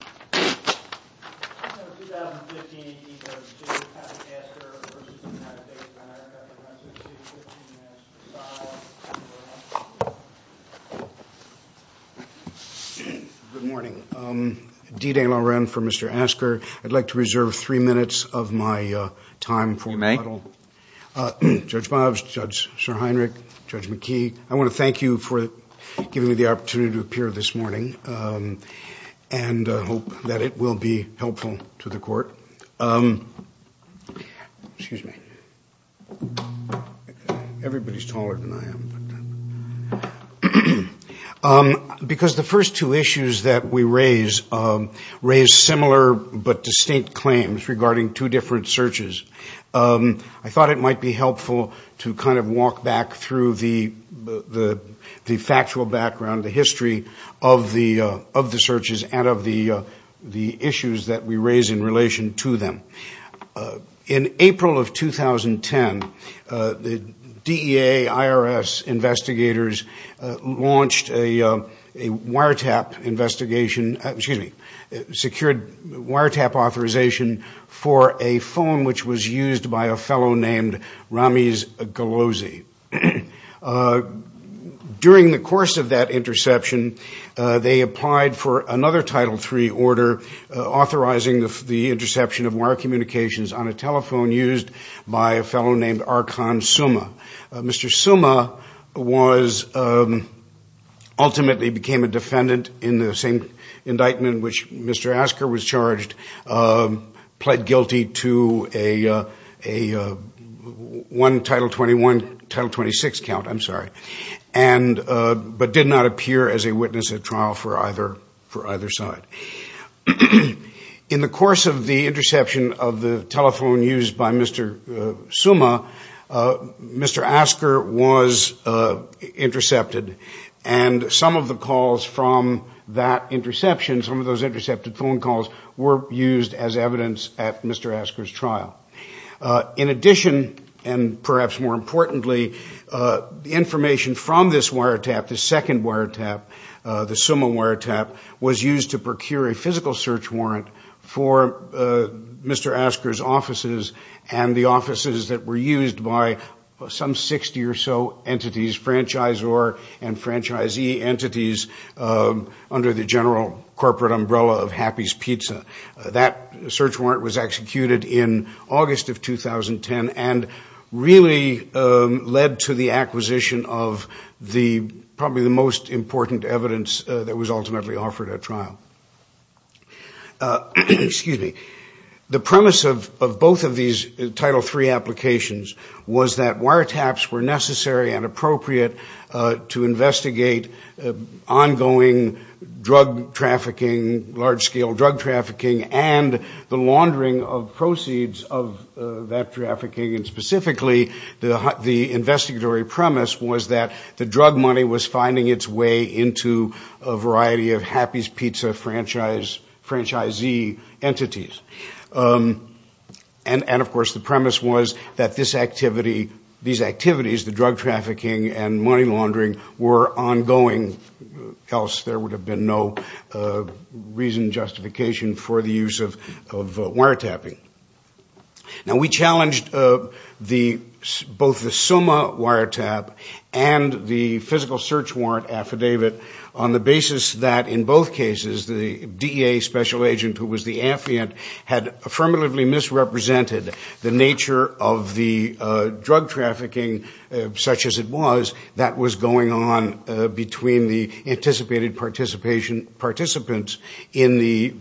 Good morning. D. Dan Loren for Mr. Asker. I'd like to reserve three minutes of my time for model. Judge Bob, Judge Heinrich, Judge McKee, I want to thank you for giving me the hope that it will be helpful to the court. Excuse me. Everybody's taller than I am. Because the first two issues that we raise, raise similar but distinct claims regarding two different searches. I thought it might be helpful to kind of walk back through the factual background, the history of the searches and of the issues that we raise in relation to them. In April of 2010, the DEA, IRS investigators launched a wiretap investigation, excuse me, secured wiretap authorization for a phone which was used by a fellow named Ramiz Golozi. During the course of that interception, they applied for another Title III order authorizing the interception of wire communications on a telephone used by a fellow named Arkan Suma. Mr. Suma ultimately became a defendant in the same indictment which Mr. Asker was charged, pled guilty to a one Title XXI, Title XXVI count, I'm sorry, but did not appear as a witness at trial for either side. In the course of the interception of the telephone used by Mr. Suma, Mr. Asker was intercepted and some of the calls from that interception, some of those intercepted phone calls were used as evidence at Mr. Asker's trial. In addition, and perhaps more importantly, the information from this wiretap, the second wiretap, the Suma wiretap, was used to procure a physical search warrant for Mr. Asker's offices and the offices that were used by some 60 or so entities, franchisor and franchisee entities, under the general corporate umbrella of Happy's Pizza. That search warrant was executed in August of 2010 and really led to the acquisition of probably the most important evidence that was ultimately offered at trial. Excuse me. The premise of both of these Title III applications was that wiretaps were necessary and appropriate to investigate ongoing drug trafficking, large-scale drug trafficking, and the laundering of proceeds of that trafficking, and specifically the investigatory premise was that the drug money was used by franchisee entities. And, of course, the premise was that these activities, the drug trafficking and money laundering, were ongoing, else there would have been no reason, justification for the use of wiretapping. Now we challenged both the Suma wiretap and the physical search warrant affidavit on the APA special agent, who was the affiant, had affirmatively misrepresented the nature of the drug trafficking such as it was that was going on between the anticipated participants in the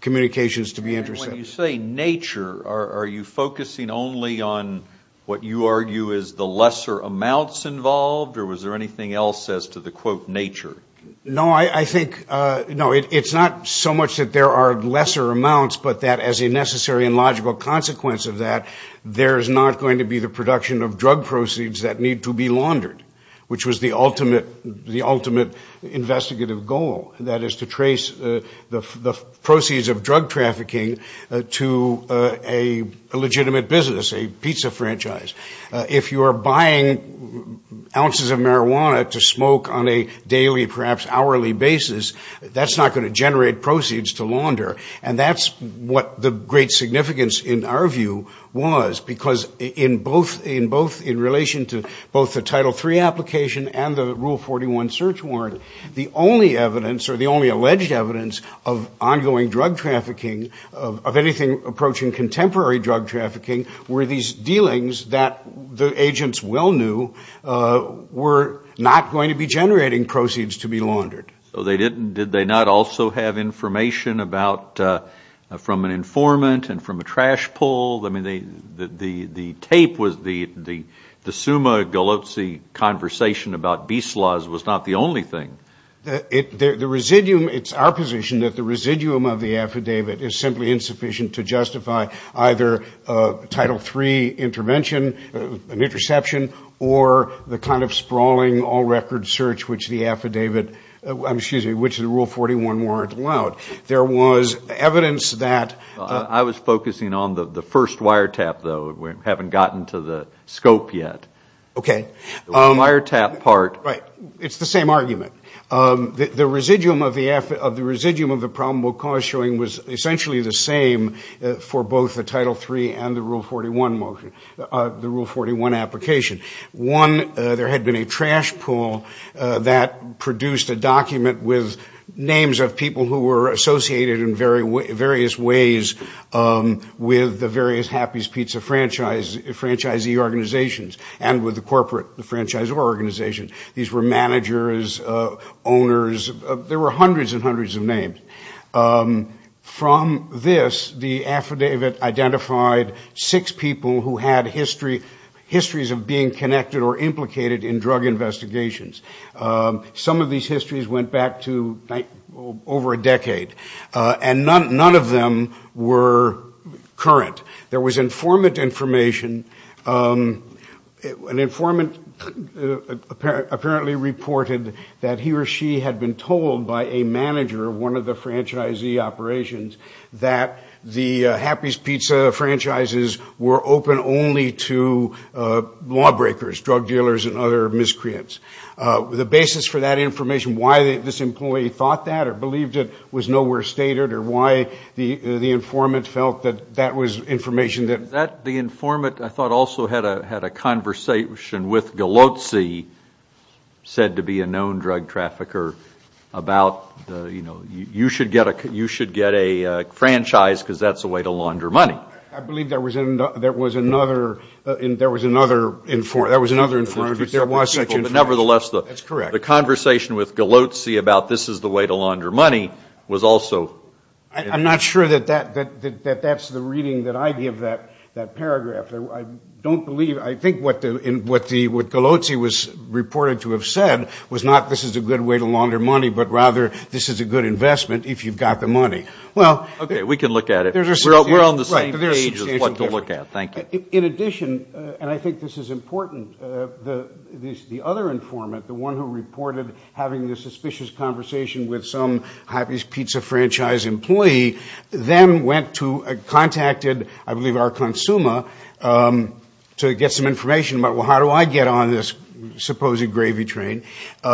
communications to be intercepted. When you say nature, are you focusing only on what you argue is the lesser amounts involved or was there anything else as to the, quote, nature? No, I think, no, it's not so much that there are lesser amounts, but that as a necessary and logical consequence of that, there is not going to be the production of drug proceeds that need to be laundered, which was the ultimate, the ultimate investigative goal, that is to trace the proceeds of drug trafficking to a legitimate business, a pizza franchise. If you are buying ounces of marijuana to a perhaps hourly basis, that's not going to generate proceeds to launder, and that's what the great significance in our view was, because in both, in relation to both the Title III application and the Rule 41 search warrant, the only evidence or the only alleged evidence of ongoing drug trafficking, of anything approaching contemporary drug trafficking, were these dealings that the agents well knew were not going to be generating proceeds to be laundered. So they didn't, did they not also have information about, from an informant and from a trash pull? I mean, the tape was, the summa gallotsi conversation about beast laws was not the only thing. The residuum, it's our position that the residuum of the affidavit is simply insufficient to justify either a Title III intervention, an interception, or the kind of sprawling all-record search which the affidavit, excuse me, which the Rule 41 warrant allowed. There was evidence that... Well, I was focusing on the first wiretap though. We haven't gotten to the scope yet. Okay. The wiretap part... Right. It's the same argument. The residuum of the affidavit, of the residuum of the problem of cause showing, was essentially the same for both the Title III and the Rule 41 motion, the Rule 41 application. One, there had been a trash pull that produced a document with names of people who were associated in various ways with the various Happy's Pizza franchise, franchisee organizations, and with the corporate, the franchisor organizations. These were managers, owners. There were hundreds and hundreds of names. From this, the affidavit identified six people who had histories of being connected or implicated in drug investigations. Some of these histories went back to over a decade, and none of them were current. There was informant information. An informant apparently reported that he or she had been told by a manager of one of the franchisee operations that the Happy's Pizza franchises were open only to lawbreakers, drug dealers, and other miscreants. The basis for that information, why this employee thought that or believed it was nowhere stated or why the informant felt that that was information that... The informant, I thought, also had a conversation with Galozzi, said to be a known drug trafficker, about, you know, you should get a franchise because that's a way to launder money. I believe there was another informant, but there was such information. That's correct. The conversation with Galozzi about this is the way to launder money was also... I'm not sure that that's the reading that I give that paragraph. I don't believe, I think what Galozzi was reported to have said was not this is a good way to launder money, but rather, this is a good investment if you've got the money. Okay, we can look at it. We're on the same page of what to look at. Thank you. In addition, and I think this is important, the other informant, the one who reported having this suspicious conversation with some Happy's Pizza franchise employee, then went to, contacted, I believe, our consumer to get some information about, well, how do I get on this supposed gravy train?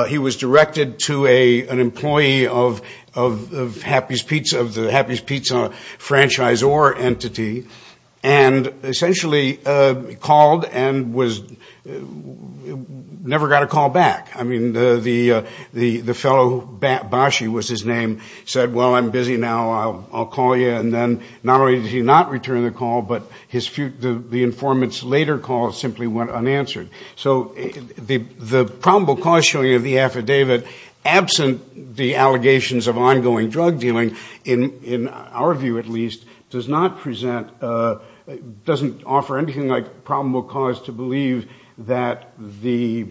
He was directed to an employee of the Happy's Pizza franchisor entity and essentially called and never got a call back. I mean, the fellow, Bashi was his name, said, well, I'm busy now. I'll call you. And then not only did he not return the call, but the informant's later call simply went unanswered. So the probable cause showing of the affidavit, absent the allegations of ongoing drug dealing, in our view at least, does not present, doesn't offer anything like probable cause to believe that the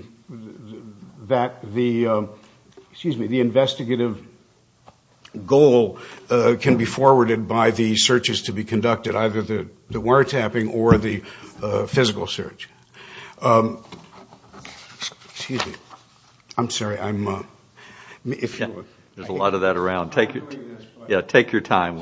investigative goal can be forwarded by the searches to be conducted, either the wiretapping or the I'm sorry. There's a lot of that around. Take your time.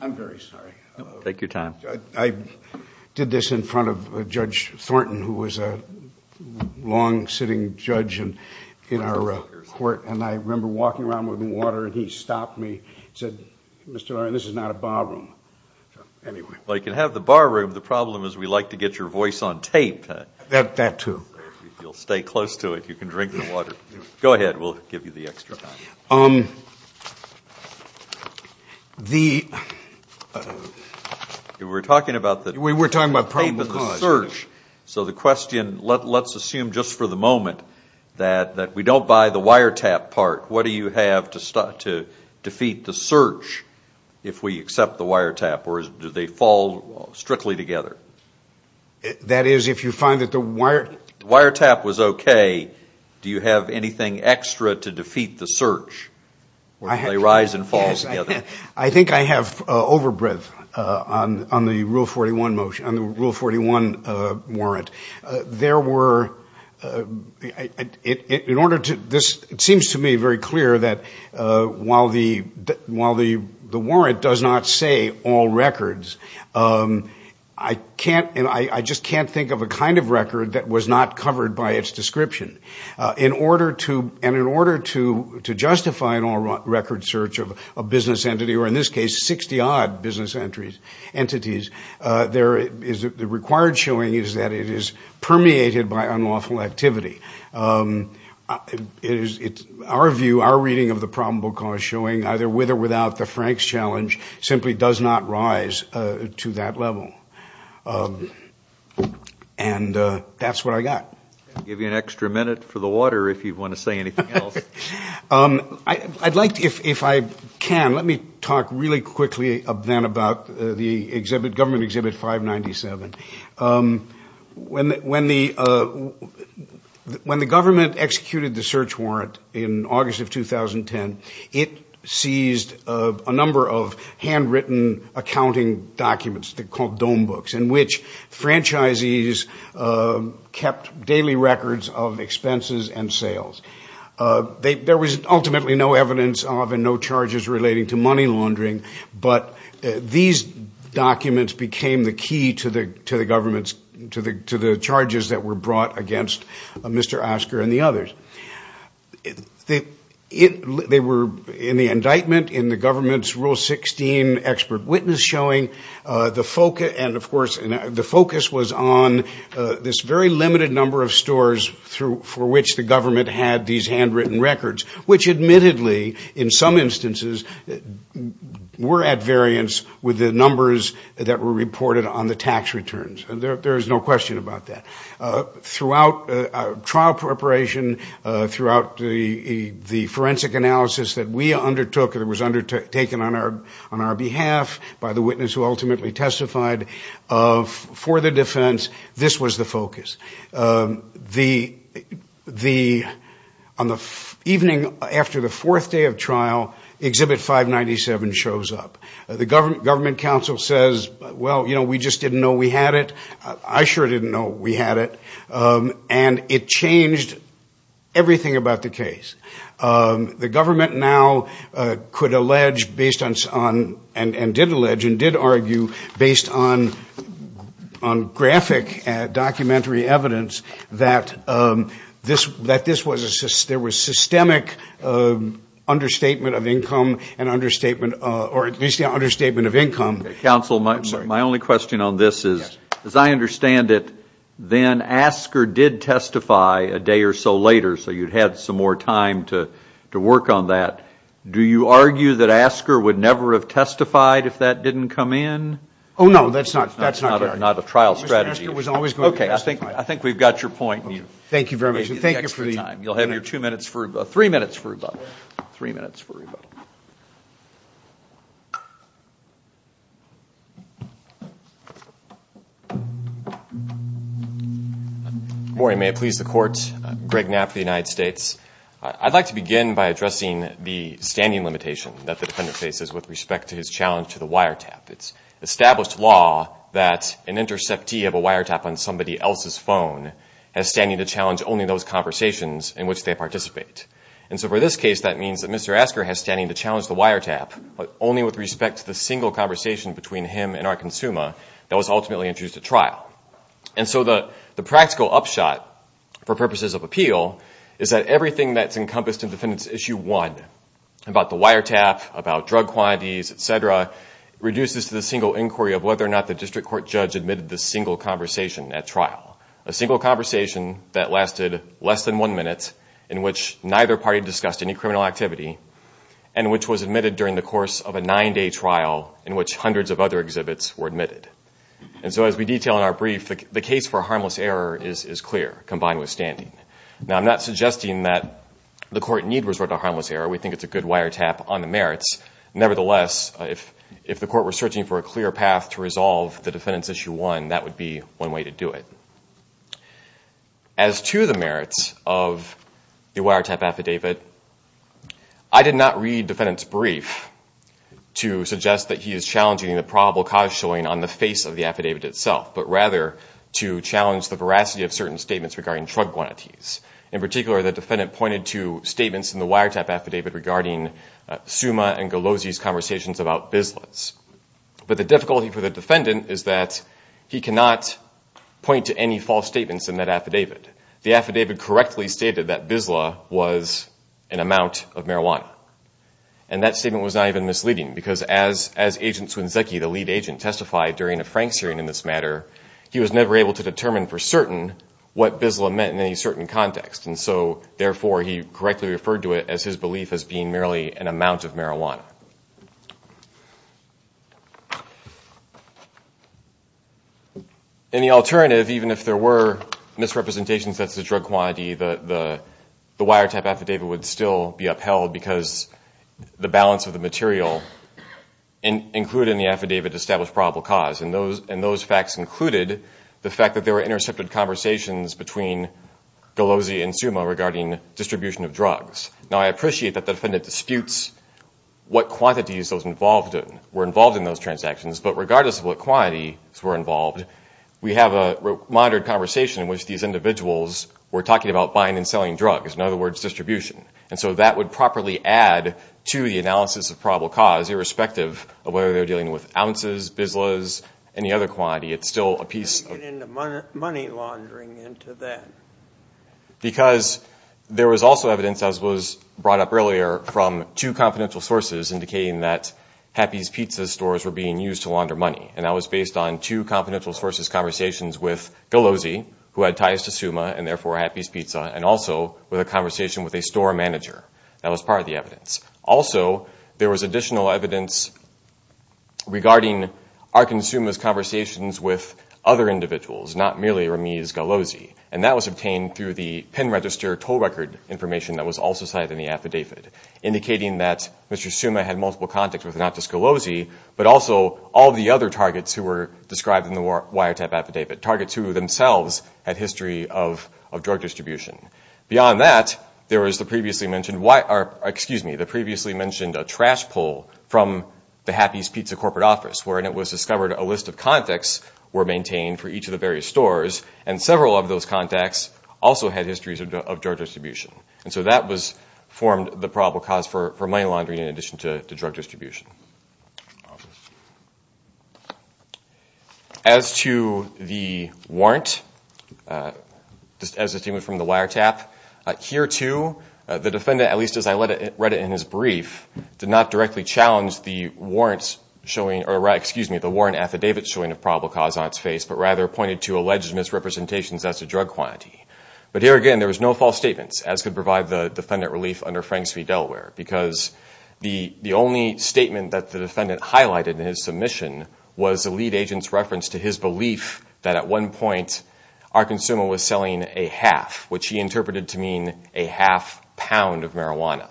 I'm very sorry. Take your time. I did this in front of Judge Thornton, who was a long-sitting judge in our court. And I remember walking around with water and he stopped me, said, Mr. Oren, this is not a bar room. Anyway. Well, you can have the bar room. The problem is we like to get your voice on tape. That too. You'll stay close to it. You can drink the water. Go ahead. We'll give you the extra time. We were talking about the search. So the question, let's assume just for the moment that we don't buy the wiretap part. What do you have to defeat the search if we accept the wiretap? Or do they fall strictly together? That is, if you find that the wiretap was okay, do you have anything extra to defeat the search? I think I have overbreadth on the Rule 41 motion, on the Rule 41 warrant. There were, it seems to me very clear that while the warrant does not say all records, I can't, I just can't think of a kind of record that was not covered by its description. In order to justify an all-record search of a business entity, or in this case, 60-odd entities, the required showing is that it is permeated by unlawful activity. Our view, our reading of the probable cause showing, either with or without the Franks challenge, simply does not rise to that level. And that's what I got. I'll give you an extra minute for the water if you want to say anything else. I'd like to, if I can, let me talk really quickly then about the government Exhibit 597. When the government executed the search warrant in August of 2010, it seized a number of handwritten accounting documents, the condom books, in which franchisees kept daily records of expenses and sales. There was ultimately no evidence of and no charges relating to money laundering, but these documents became the key to the government's, to the charges that were brought against Mr. Asker and the others. They were in the indictment, in the government's Rule 16 expert witness showing, the focus, and of course, the focus was on this very limited number of stores for which the government had these handwritten records, which admittedly, in some instances, were at variance with the numbers that were reported on the tax returns. There is no question about that. Throughout trial preparation, throughout the forensic analysis that we undertook, that was ultimately testified for the defense, this was the focus. The, on the evening after the fourth day of trial, Exhibit 597 shows up. The government council says, well, you know, we just didn't know we had it. I sure didn't know we had it. And it changed everything about the case. The government now could allege, based on, and did allege, and did argue, based on graphic documentary evidence that this, that this was a, there was systemic understatement of income and understatement, or at least the understatement of income. Counsel, my only question on this is, as I understand it, then Asker did testify a day or so later, so you'd had some more time to work on that. Do you argue that Asker would never have testified if that didn't come in? Oh, no, that's not, that's not, not a trial strategy. Okay, I think, I think we've got your point. Thank you very much. You'll have your two minutes for, three minutes for rebuttal, three minutes for rebuttal. Good morning, may it please the court. Greg Knapp for the United States. I'd like to begin by addressing the standing limitation that the defendant faces with respect to his challenge to the wiretap. It's established law that an interceptee of a wiretap on somebody else's phone has standing to challenge only those conversations in which they participate. And so for this case, that means that Mr. Asker has standing to challenge the wiretap, but only with respect to the single conversation between him and our consumer that was ultimately introduced at trial. And so the, the practical upshot for purposes of appeal is that everything that's encompassed in defendant's issue one, about the wiretap, about drug quantities, et cetera, reduces to the single inquiry of whether or not the district court judge admitted the single conversation at trial. A single conversation that lasted less than one minute in which neither party discussed any criminal activity, and which was admitted during the course of a nine day trial in which hundreds of other exhibits were admitted. And so as we detail in our brief, the case for a harmless error is clear, combined with standing. Now I'm not suggesting that the court need resort to harmless error. We think it's a good wiretap on the merits. Nevertheless, if, if the court were searching for a clear path to resolve the defendant's issue one, that would be one way to do it. As to the merits of the wiretap affidavit, I did not read defendant's brief to suggest that he is challenging the probable cause showing on the face of the affidavit itself, but rather to challenge the veracity of certain statements regarding drug quantities. In particular, the defendant pointed to statements in the wiretap affidavit regarding Suma and Galozzi's conversations about business. But the difficulty for the defendant is that he cannot point to any false statements in that affidavit. The affidavit correctly stated that Bisla was an amount of marijuana. And that statement was not even misleading because as, as agent Swinzeki, the lead agent testified during a Frank hearing in this matter, he was never able to determine for certain what Bisla meant in any certain context. And so therefore he correctly referred to it as his belief as being merely an amount of marijuana. In the alternative, even if there were misrepresentations, that's the drug quantity, the, the, the wiretap affidavit would still be upheld because the balance of the material included in the affidavit established probable cause. And those, and those facts included the fact that there were intercepted conversations between Galozzi and Suma regarding distribution of drugs. Now, I appreciate that the defendant disputes what quantities those involved in, were involved in those transactions. But regardless of what quantities were involved, we have a moderate conversation in which these individuals were talking about buying and selling drugs. In other words, distribution. And so that would properly add to the analysis of probable cause irrespective of whether they're dealing with ounces, Bislas, any other quantity. It's still a piece of... How do you get into money laundering into that? Because there was also evidence, as was brought up earlier, from two confidential sources indicating that Happy's Pizza stores were being used to launder money. And that was based on two confidential sources' conversations with Galozzi, who had ties to Suma and therefore Happy's Pizza, and also with a conversation with a store manager. That was part of the evidence. Also, there was additional evidence regarding Arkin Suma's conversations with other individuals, not merely Ramiz Galozzi. And that was obtained through the pen register toll record information that was cited in the affidavit, indicating that Mr. Suma had multiple contacts with not just Galozzi, but also all of the other targets who were described in the wiretap affidavit. Targets who themselves had history of drug distribution. Beyond that, there was the previously mentioned trash pull from the Happy's Pizza corporate office, wherein it was discovered a list of contacts were maintained for each of the various stores, and several of those contacts also had drug distribution. And so that formed the probable cause for money laundering in addition to drug distribution. As to the warrant, just as a statement from the wiretap, here too, the defendant, at least as I read it in his brief, did not directly challenge the warrant affidavit showing a probable cause on its face, but rather pointed to alleged misrepresentations as to drug quantity. But here again, there was no false statements, as could provide the defendant relief under Franks v. Delaware, because the only statement that the defendant highlighted in his submission was a lead agent's reference to his belief that at one point, our consumer was selling a half, which he interpreted to mean a half pound of marijuana.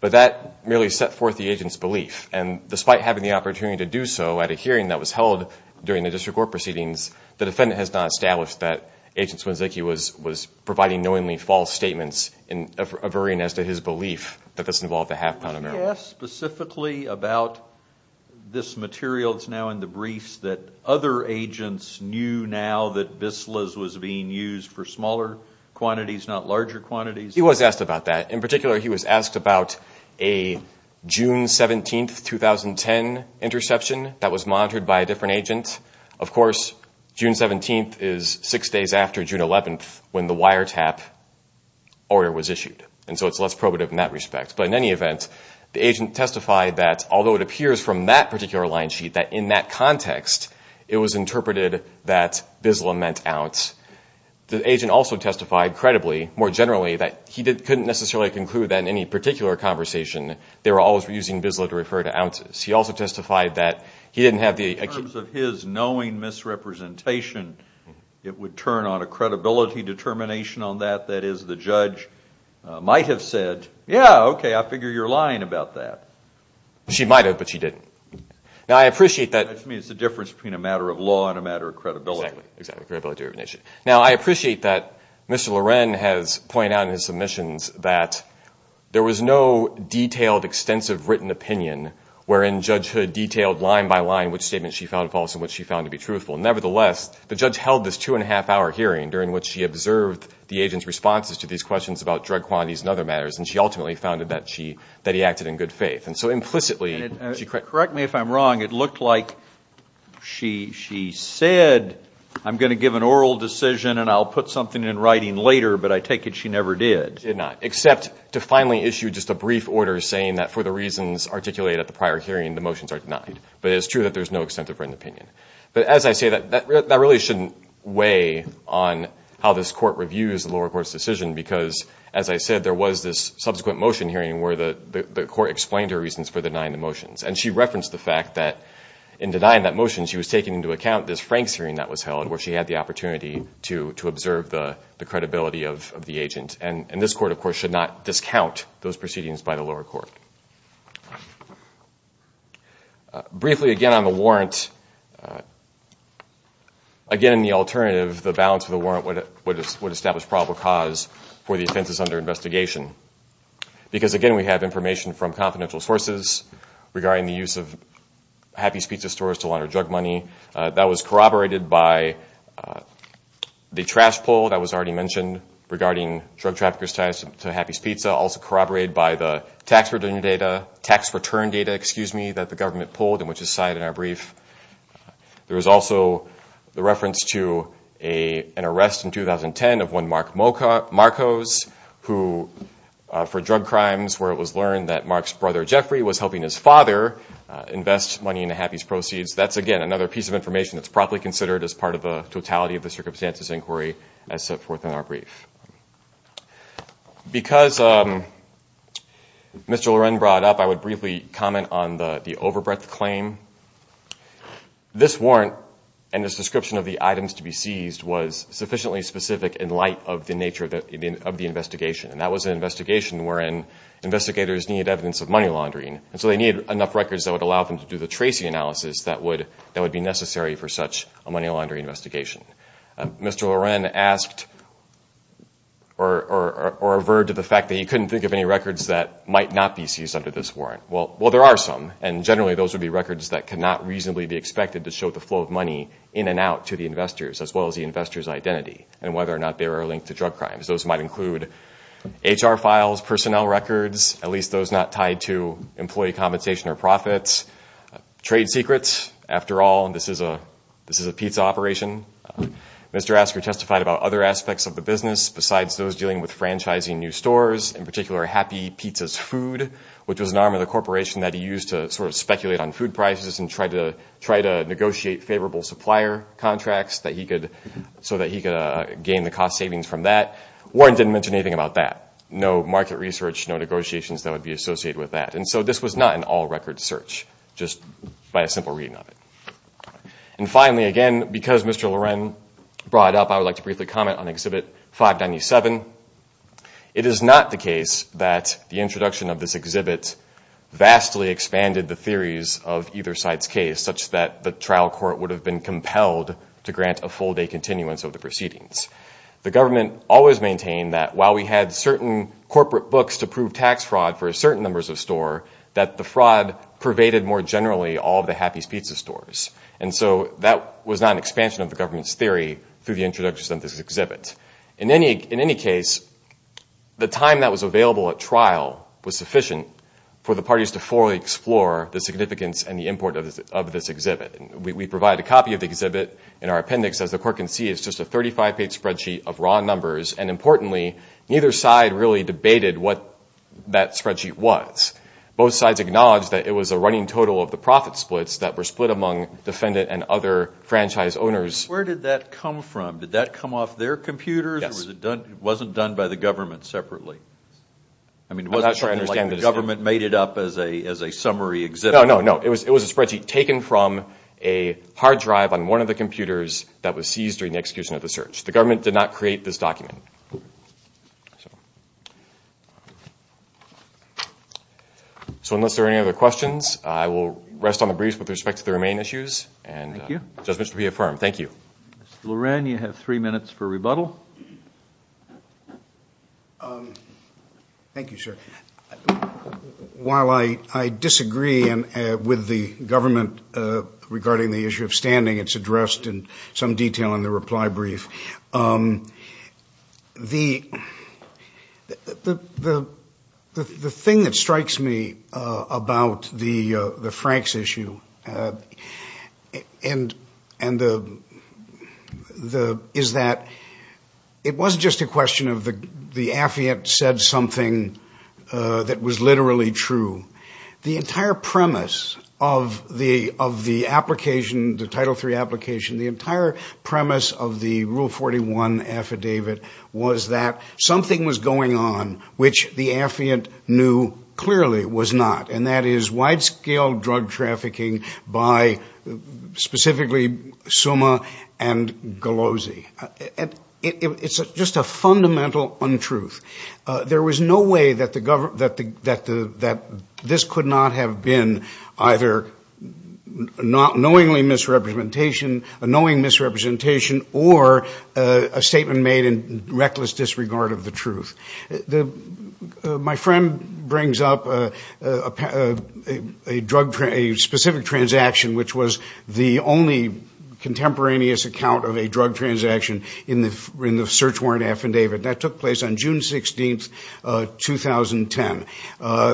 But that merely set forth the agent's belief. And despite having the opportunity to do so at a hearing that was held during the District Court proceedings, the defendant has not established that Agent Swinzycki was providing knowingly false statements, averring as to his belief that this involved a half pound of marijuana. Can you ask specifically about this material that's now in the briefs that other agents knew now that Bislas was being used for smaller quantities, not larger quantities? He was asked about that. In particular, he was asked about a June 17, 2010, interception that was monitored by a different agent. Of course, June 17 is six days after June 11, when the wire tap order was issued. And so it's less probative in that respect. But in any event, the agent testified that although it appears from that particular line sheet that in that context, it was interpreted that Bisla meant ounce. The agent also testified credibly, more generally, that he couldn't necessarily conclude that in any particular conversation, they were always using Bisla to refer to ounces. He also testified that he didn't have the... In terms of his knowing misrepresentation, it would turn on a credibility determination on that. That is, the judge might have said, yeah, okay, I figure you're lying about that. She might have, but she didn't. Now, I appreciate that... I mean, it's the difference between a matter of law and a matter of credibility. Exactly, credibility of an issue. Now, I appreciate that Mr. Loren has pointed out in his submissions that there was no detailed extensive written opinion wherein Judge Hood detailed line by line which statement she found false and which she found to be truthful. Nevertheless, the judge held this two and a half hour hearing during which she observed the agent's responses to these questions about drug quantities and other matters. And she ultimately found that he acted in good faith. And so implicitly... Correct me if I'm wrong, it looked like she said, I'm going to give an oral decision and I'll put something in writing later, but I take it she never did. She did not, except to finally issue just a brief order saying that for the reasons articulated at the prior hearing, the motions are denied. But it's true that there's no extensive written opinion. But as I say, that really shouldn't weigh on how this court reviews the lower court's decision because as I said, there was this subsequent motion hearing where the court explained her reasons for denying the motions. And she referenced the fact that in denying that motion, she was taking into account this Frank's hearing that was held where she had the opportunity to observe the credibility of the agent. And this court, of course, should not discount those proceedings by the lower court. Briefly again on the warrant, again, the alternative, the balance of the warrant would establish probable cause for the offenses under investigation. Because again, we have information from confidential sources regarding the use of Happy's Pizza Stores to launder drug money that was corroborated by the trash poll that was already mentioned regarding drug traffickers ties to Happy's Pizza, also corroborated by the tax return data that the government pulled and which is cited in our brief. There was also the reference to an arrest in 2010 of one Mark Marcos for drug crimes where it was learned that Mark's brother Jeffrey was helping his father invest money into Happy's proceeds. That's again, another piece of information that's properly considered as part of the totality of the circumstances inquiry as set forth in our brief. Because Mr. Loren brought up, I would briefly comment on the overbreadth claim. This warrant and this description of the items to be seized was sufficiently specific in light of the nature of the investigation. And that was an investigation wherein investigators need evidence of money laundering. And so they needed enough records that would allow them to do the tracing analysis that would be necessary for such a money laundering investigation. Mr. Loren asked or averred to the fact that he couldn't think of any records that might not be seized under this warrant. Well, there are some. And generally, those would be records that cannot reasonably be expected to show the flow of money in and out to the investors as well as the investor's identity and whether or not they were linked to drug crimes. Those might include HR files, personnel records, at least those not tied to employee compensation or profits, trade secrets. After all, this is a pizza operation. Mr. Asker testified about other aspects of the business besides those dealing with franchising new stores, in particular Happy Pizza's food, which was an arm of the corporation that he used to sort of speculate on food prices and try to negotiate favorable supplier contracts so that he could gain the cost savings from that. Warren didn't mention anything about that. No market research, no negotiations that would be associated with that. And so this was not an all-record search just by a simple reading of it. And finally, again, because Mr. Loren brought it up, I would like to briefly comment on Exhibit 597. It is not the case that the introduction of this exhibit vastly expanded the theories of either side's case such that the trial court would have been compelled to grant a full-day that while we had certain corporate books to prove tax fraud for a certain number of stores, that the fraud pervaded more generally all of the Happy Pizza stores. And so that was not an expansion of the government's theory through the introduction of this exhibit. In any case, the time that was available at trial was sufficient for the parties to fully explore the significance and the importance of this exhibit. We provide a copy of the exhibit in our appendix. As the court can see, it's just a 35-page spreadsheet of raw numbers. And importantly, neither side really debated what that spreadsheet was. Both sides acknowledged that it was a running total of the profit splits that were split among defendant and other franchise owners. Where did that come from? Did that come off their computers? It wasn't done by the government separately. I mean, it wasn't something like the government made it up as a summary exhibit. No, no, no. It was a spreadsheet taken from a hard drive on one of the that was seized during the execution of the search. The government did not create this document. So unless there are any other questions, I will rest on the briefs with respect to the remaining issues. And just to be affirmed. Thank you. Mr. Loran, you have three minutes for rebuttal. Thank you, sir. While I disagree with the government regarding the issue of standing, it's addressed in some detail in the reply brief. The thing that strikes me about the Franks issue is that it wasn't just a question of the affiant said something that was literally true. The entire premise of the of the application, the Title III application, the entire premise of the Rule 41 affidavit was that something was going on which the affiant knew clearly was not. And that is wide scale drug trafficking by specifically Suma and Galozzi. And it's just a fundamental untruth. There was no way that this could not have been either knowingly misrepresentation, a knowing misrepresentation, or a statement made in reckless disregard of the truth. My friend brings up a specific transaction which was the only contemporaneous account of a drug transaction in the search warrant affidavit. That took place on June 16, 2010.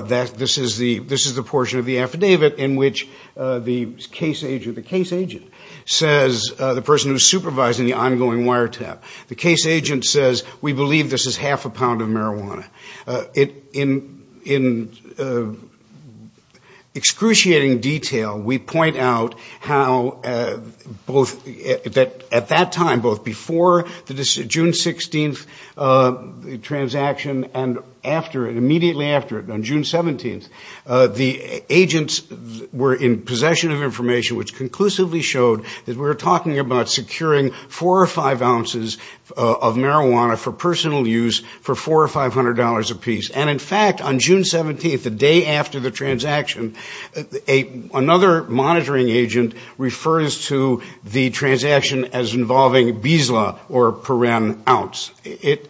This is the portion of the affidavit in which the case agent says, the person who is supervising the ongoing wiretap, the case agent says, we believe this is half a pound of marijuana. In excruciating detail, we point out how at that time, both before the June 16th transaction and immediately after it, on June 17th, the agents were in possession of information which conclusively showed that we were talking about securing four or five ounces of marijuana for personal use for $400 or $500 apiece. And in fact, on June 17th, the day after the transaction, another monitoring agent refers to the transaction as involving bisla, or per ounce. The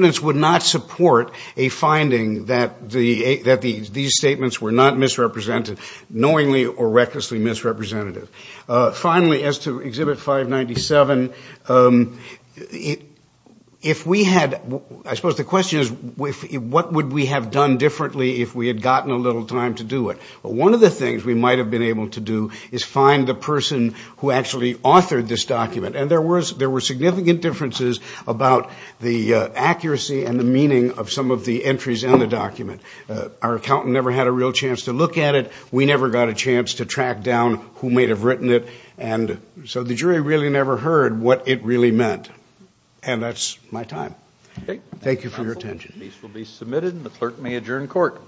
evidence would not support a finding that these statements were not misrepresented, knowingly or recklessly misrepresentative. Finally, as to Exhibit 597, I suppose the question is, what would we have done differently if we had gotten a little time to do it? One of the things we might have been able to do is find the person who actually authored this document. And there were significant differences about the accuracy and the meaning of some of the entries in the document. Our accountant never had a real chance to look at it. We never got a chance to track down who may have written it. And so the jury really never heard what it really meant. And that's my time. Thank you for your attention.